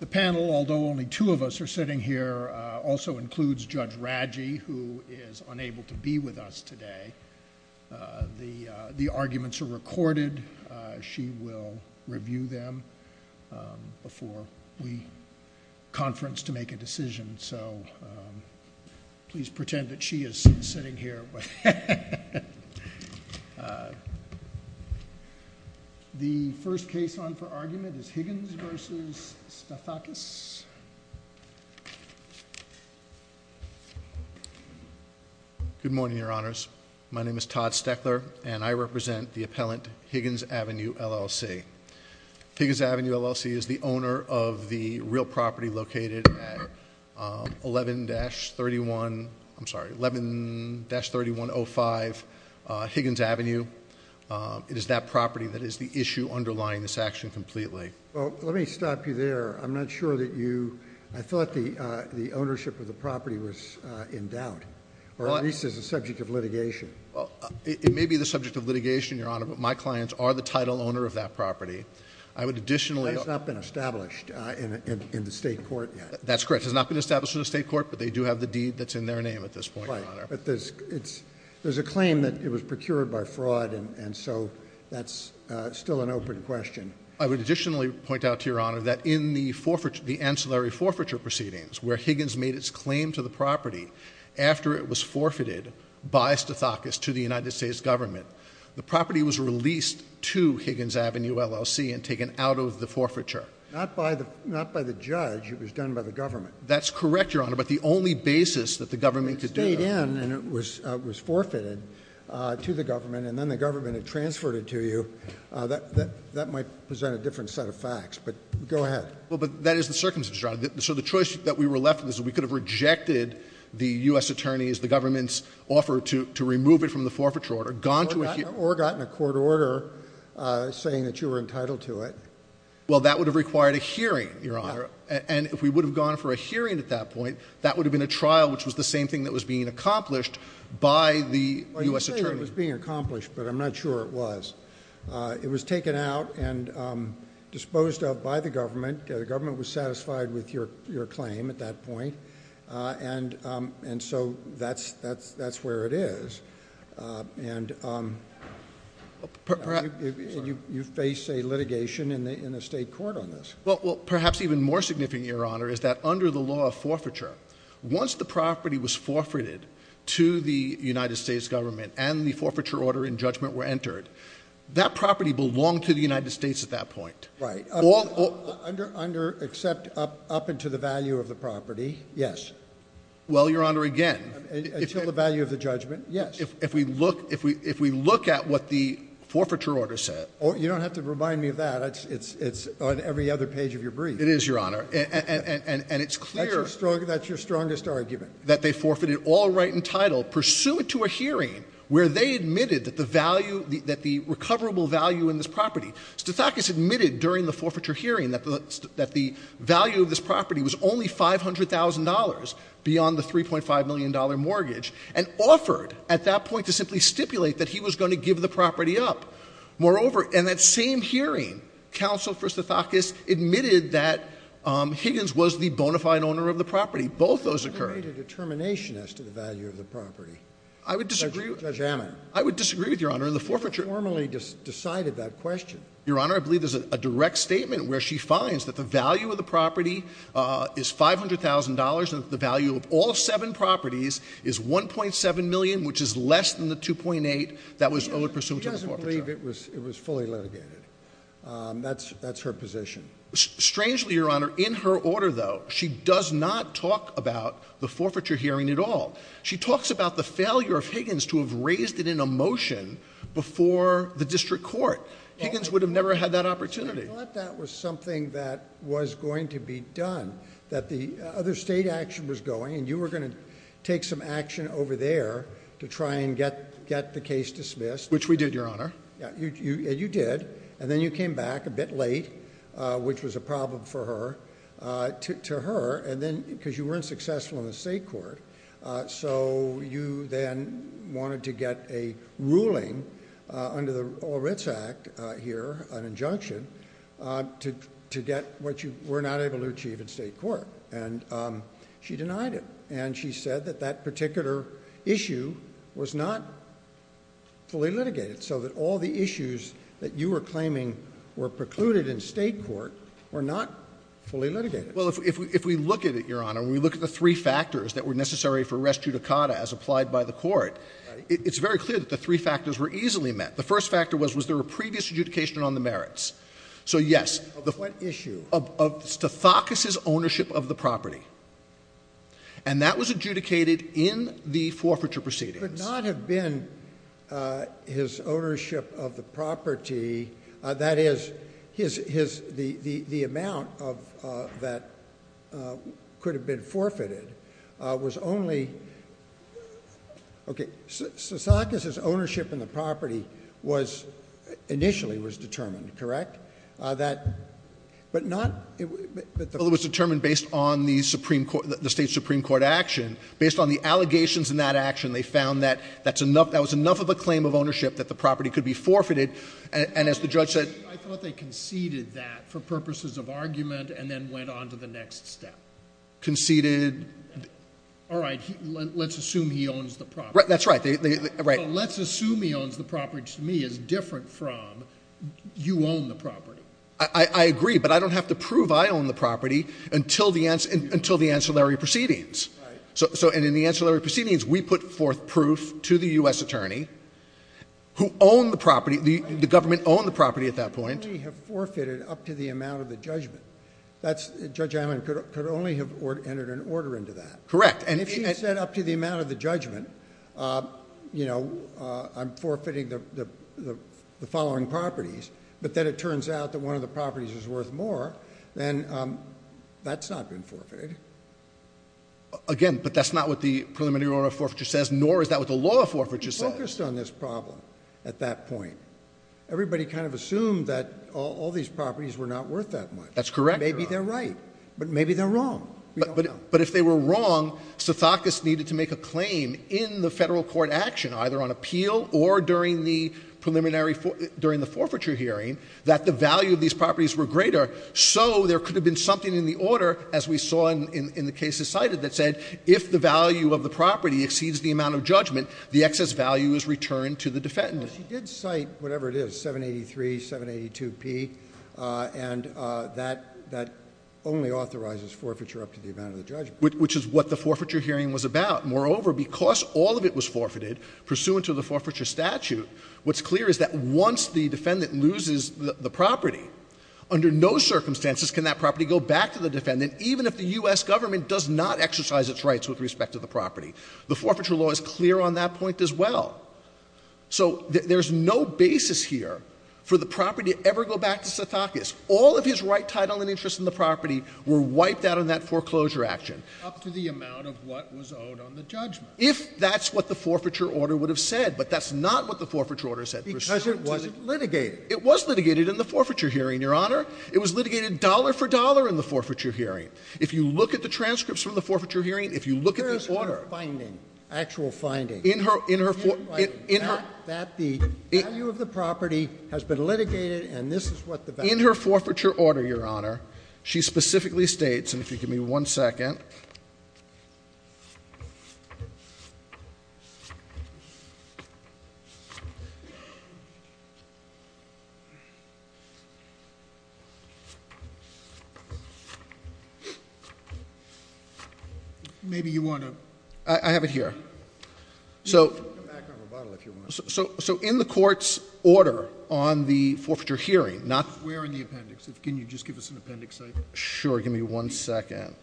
The panel, although only two of us are sitting here, also includes Judge Radji, who is unable to be with us today. The the arguments are recorded. She will review them before we conference to make a decision. So please pretend that she is sitting here. The first case on for argument is Higgins v. Stathakis. Good morning, Your Honors. My name is Todd Steckler, and I represent the appellant Higgins Avenue LLC. Higgins Avenue LLC is the owner of the real property located at 11-31, I'm sorry, 11-3105 Higgins Avenue. It is that property that is the issue underlying this action completely. Well, let me stop you there. I'm not sure that you, I thought the ownership of the property was in doubt, or at least it is the subject of litigation. It may be the subject of litigation, Your Honor, but my clients are the title owner of that property. I would additionally That has not been established in the state court yet. That's correct. It has not been established in the state court, but they do have the deed that's in their name at this point. Right. But there's a claim that it was procured by fraud, and so that's still an open question. I would additionally point out to Your Honor that in the forfeiture, the ancillary forfeiture proceedings, where Higgins made its claim to the property after it was forfeited by Stathakis to the United States government, the property was released to Higgins Avenue LLC and taken out of the forfeiture. Not by the judge. It was done by the government. That's correct, Your Honor, but the only basis that the government could do— It stayed in and it was forfeited to the government, and then the government had transferred it to you. That might present a different set of facts, but go ahead. Well, but that is the circumstances, Your Honor. So the choice that we were left with is that we could have rejected the U.S. attorney's, the government's offer to remove it from the forfeiture order, gone to a hearing— Or gotten a court order saying that you were entitled to it. Well, that would have required a hearing, Your Honor, and if we would have gone for a hearing at that point, that would have been a trial, which was the same thing that was being accomplished by the U.S. attorney. Well, you say it was being accomplished, but I'm not sure it was. It was taken out and disposed of by the government. The government was satisfied with your claim at that point, and so that's where it is. And you face a litigation in a state court on this. Perhaps even more significant, Your Honor, is that under the law of forfeiture, once the property was forfeited to the United States government and the forfeiture order and judgment were entered, that property belonged to the United States at that point. Except up until the value of the property, yes. Well, Your Honor, again— Until the value of the judgment, yes. If we look at what the forfeiture order said— You don't have to remind me of that. It's on every other page of your brief. It is, Your Honor. And it's clear— That's your strongest argument. —that they forfeited all right and title pursuant to a hearing where they admitted that the recoverable value in this property—Stathakis admitted during the forfeiture hearing that the value of this property was only $500,000 beyond the $3.5 million mortgage, and offered at that point to simply stipulate that he was going to give the property up. Moreover, in that same hearing, Counsel for Stathakis admitted that Higgins was the bona fide owner of the property. Both those occurred. What made a determination as to the value of the property? I would disagree— Judge Hammond. I would disagree with Your Honor. In the forfeiture— He formally decided that question. Your Honor, I believe there's a direct statement where she finds that the value of the property is $500,000 and that the value of all seven properties is $1.7 million, which is less than the $2.8 million that was owed pursuant to the forfeiture. She doesn't believe it was fully litigated. That's her position. Strangely, Your Honor, in her order, though, she does not talk about the forfeiture hearing at all. She talks about the failure of Higgins to have raised it in a motion before the district court. Higgins would have never had that opportunity. I thought that was something that was going to be done, that the other state action was going, and you were going to take some action over there to try and get the case dismissed. Which we did, Your Honor. Yeah, you did, and then you came back a bit late, which was a problem for her, to her, because you weren't successful in the state court. So you then wanted to get a ruling under the Oritz Act here, an injunction, to get what you were not able to achieve in state court, and she denied it. And she said that that particular issue was not fully litigated, so that all the issues that you were claiming were precluded in state court were not fully litigated. Well, if we look at it, Your Honor, and we look at the three factors that were necessary for res judicata as applied by the Court, it's very clear that the three factors were easily met. The first factor was, was there a previous adjudication on the merits? So, yes. Of what issue? Of Stathakis's ownership of the property. And that was adjudicated in the forfeiture proceedings. Could not have been his ownership of the property, that is, the amount that could have been forfeited was only, okay, Stathakis's ownership in the property was, initially was determined, correct? That, but not, it was determined based on the Supreme Court, the state Supreme Court action. Based on the allegations in that action, they found that that's enough, that was enough of a claim of ownership that the property could be forfeited. And as the judge said... I thought they conceded that for purposes of argument and then went on to the next step. Conceded... All right, let's assume he owns the property. That's right. Let's assume he owns the property, which to me is different from you own the property. I agree, but I don't have to prove I own the property until the ancillary proceedings. So, and in the ancillary proceedings, we put forth proof to the U.S. attorney who owned the property, the government owned the property at that point. Could only have forfeited up to the amount of the judgment. Judge Allen could only have entered an order into that. Correct. If he said up to the amount of the judgment, you know, I'm forfeiting the following properties, but then it turns out that one of the properties is worth more, then that's not been forfeited. Again, but that's not what the preliminary order of forfeiture says, nor is that what the law of forfeiture says. We focused on this problem at that point. Everybody kind of assumed that all these properties were not worth that much. That's correct. Maybe they're right, but maybe they're wrong. But if they were wrong, Sithakus needed to make a claim in the Federal court action, either on appeal or during the preliminary, during the forfeiture hearing, that the value of these properties were greater. So there could have been something in the order, as we saw in the cases cited, that said if the value of the property exceeds the amount of judgment, the excess value is returned to the defendant. She did cite whatever it is, 783, 782 P, and that only authorizes forfeiture up to the amount of the judgment. Which is what the forfeiture hearing was about. Moreover, because all of it was forfeited pursuant to the forfeiture statute, what's clear is that once the defendant loses the property, under no circumstances can that property go back to the defendant, even if the U.S. government does not exercise its rights with respect to the property. The forfeiture law is clear on that point as well. So there's no basis here for the property to ever go back to Sithakus. All of his right title and interest in the property were wiped out in that foreclosure action. Sotomayor up to the amount of what was owed on the judgment. If that's what the forfeiture order would have said. But that's not what the forfeiture order said. Because it wasn't litigated. It was litigated in the forfeiture hearing, Your Honor. It was litigated dollar for dollar in the forfeiture hearing. If you look at the transcripts from the forfeiture hearing, if you look at the order. Where is her finding, actual finding? In her, in her, in her, that the value of the property has been litigated. And this is what the, in her forfeiture order, Your Honor. She specifically states. And if you give me one second. Maybe you want to, I have it here. So, so, so in the court's order on the forfeiture hearing, not. We're in the appendix. Can you just give us an appendix? Sure. Give me one second.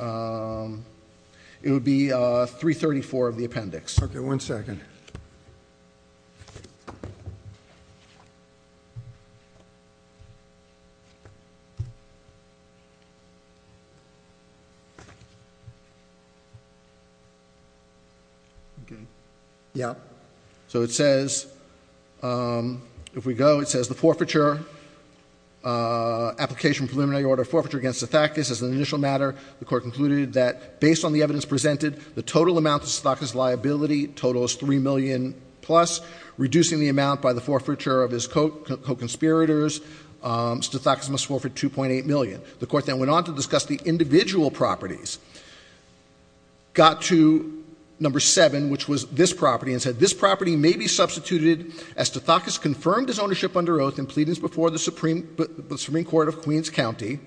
It would be 334 of the appendix. Okay. Okay, yeah. So it says, if we go, it says the forfeiture, application preliminary order forfeiture against the fact is as an initial matter, the court concluded that based on the evidence presented, the total amount of Stathakis liability total is 3 million plus. Reducing the amount by the forfeiture of his co-conspirators, Stathakis must forfeit 2.8 million. The court then went on to discuss the individual properties. Got to number seven, which was this property, and said this property may be substituted as Stathakis confirmed his ownership under oath in pleadings before the Supreme Court of Queens County.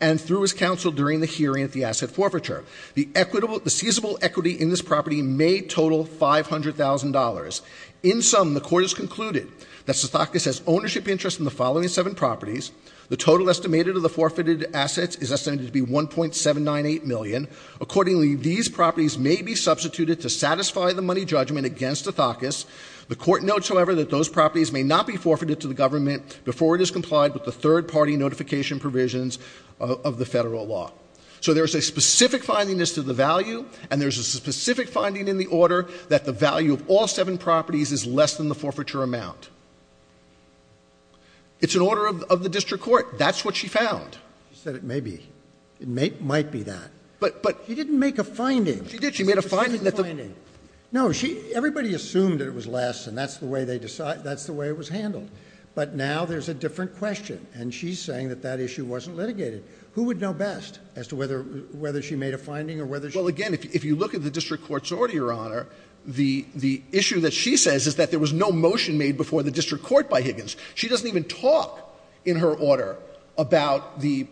And through his counsel during the hearing at the asset forfeiture. The equitable, the feasible equity in this property may total $500,000. In sum, the court has concluded that Stathakis has ownership interest in the following seven properties. The total estimated of the forfeited assets is estimated to be 1.798 million. Accordingly, these properties may be substituted to satisfy the money judgment against Stathakis. The court notes, however, that those properties may not be forfeited to the government before it is complied with the third party notification provisions of the federal law. So there's a specific findingness to the value, and there's a specific finding in the order that the value of all seven properties is less than the forfeiture amount. It's an order of the district court. That's what she found. She said it may be. It might be that. She didn't make a finding. She did. She made a finding. No, everybody assumed it was less, and that's the way it was handled. But now there's a different question, and she's saying that that issue wasn't litigated. Who would know best? Whether she made a finding or whether she— Well, again, if you look at the district court's order, Your Honor, the issue that she says is that there was no motion made before the district court by Higgins. She doesn't even talk in her order about the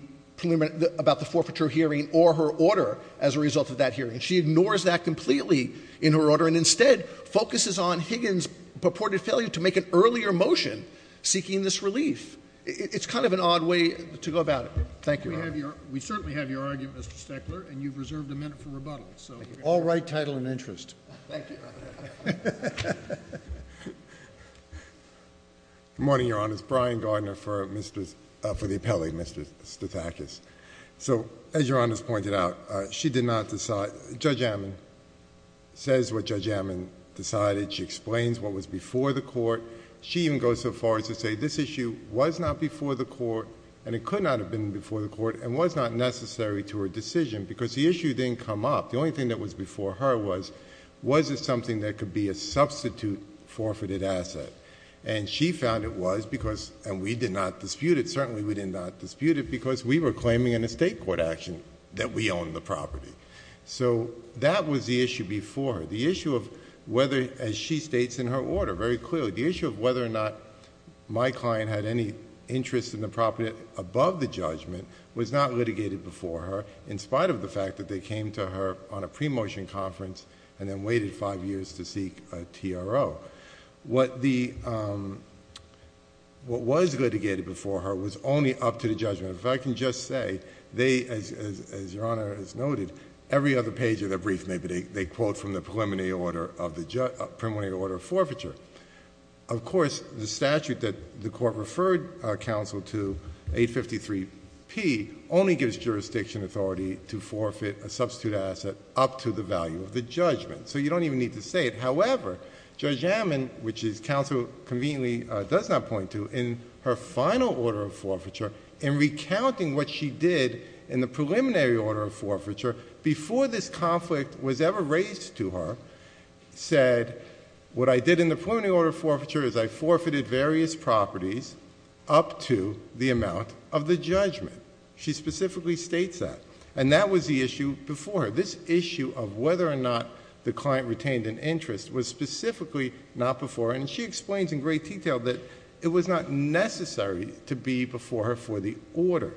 forfeiture hearing or her order as a result of that hearing. She ignores that completely in her order and instead focuses on Higgins' purported failure to make an earlier motion seeking this relief. Thank you, Your Honor. We certainly have your argument, Mr. Steckler, and you've reserved a minute for rebuttal. All right, title and interest. Good morning, Your Honor. It's Brian Gardner for the appellate, Mr. Stathakis. So as Your Honor has pointed out, she did not decide—Judge Ammon says what Judge Ammon decided. She explains what was before the court. She even goes so far as to say this issue was not before the court, and it could not have been before the court, and was not necessary to her decision because the issue didn't come up. The only thing that was before her was, was it something that could be a substitute forfeited asset? She found it was because—and we did not dispute it. Certainly, we did not dispute it because we were claiming in a state court action that we own the property. So that was the issue before her, the issue of whether, as she states in her order very clearly, the issue of whether or not my client had any interest in the property above the judgment was not litigated before her in spite of the fact that they came to her on a pre-motion conference and then waited five years to seek a TRO. What the—what was litigated before her was only up to the judgment. In fact, I can just say they, as Your Honor has noted, every other page of their brief maybe, they quote from the preliminary order of the—preliminary order of forfeiture. Of course, the statute that the court referred counsel to, 853P, only gives jurisdiction authority to forfeit a substitute asset up to the value of the judgment. So you don't even need to say it. However, Judge Ammon, which is counsel conveniently does not point to, in her final order of forfeiture, in recounting what she did in the preliminary order of forfeiture before this conflict was ever raised to her, said, what I did in the preliminary order of forfeiture is I forfeited various properties up to the amount of the judgment. She specifically states that. And that was the issue before her. This issue of whether or not the client retained an interest was specifically not before her. And she explains in great detail that it was not necessary to be before her for the order.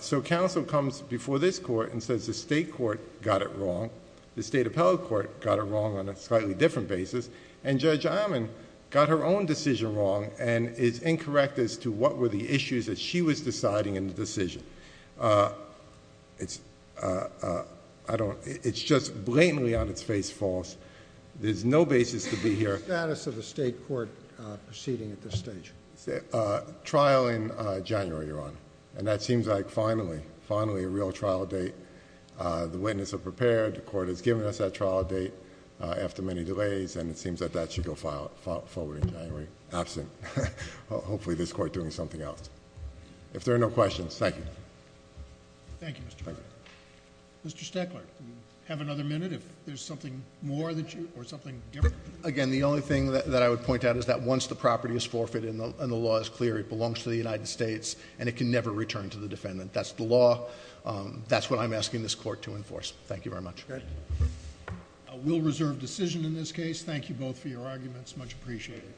So counsel comes before this court and says the state court got it wrong. The state appellate court got it wrong on a slightly different basis. And Judge Ammon got her own decision wrong and is incorrect as to what were the issues that she was deciding in the decision. It's—I don't—it's just blatantly on its face false. There's no basis to be here— What's the status of the state court proceeding at this stage? A trial in January, Your Honor. And that seems like finally, finally a real trial date. The witness are prepared. The court has given us that trial date after many delays. And it seems that that should go forward in January. Absent. Hopefully this court doing something else. If there are no questions, thank you. Thank you, Mr. President. Mr. Steckler, have another minute if there's something more that you—or something different? Again, the only thing that I would point out is that once the property is forfeited and the law is clear, it belongs to the United States and it can never return to the defendant. That's the law. That's what I'm asking this court to enforce. Thank you very much. We'll reserve decision in this case. Thank you both for your arguments. Much appreciated.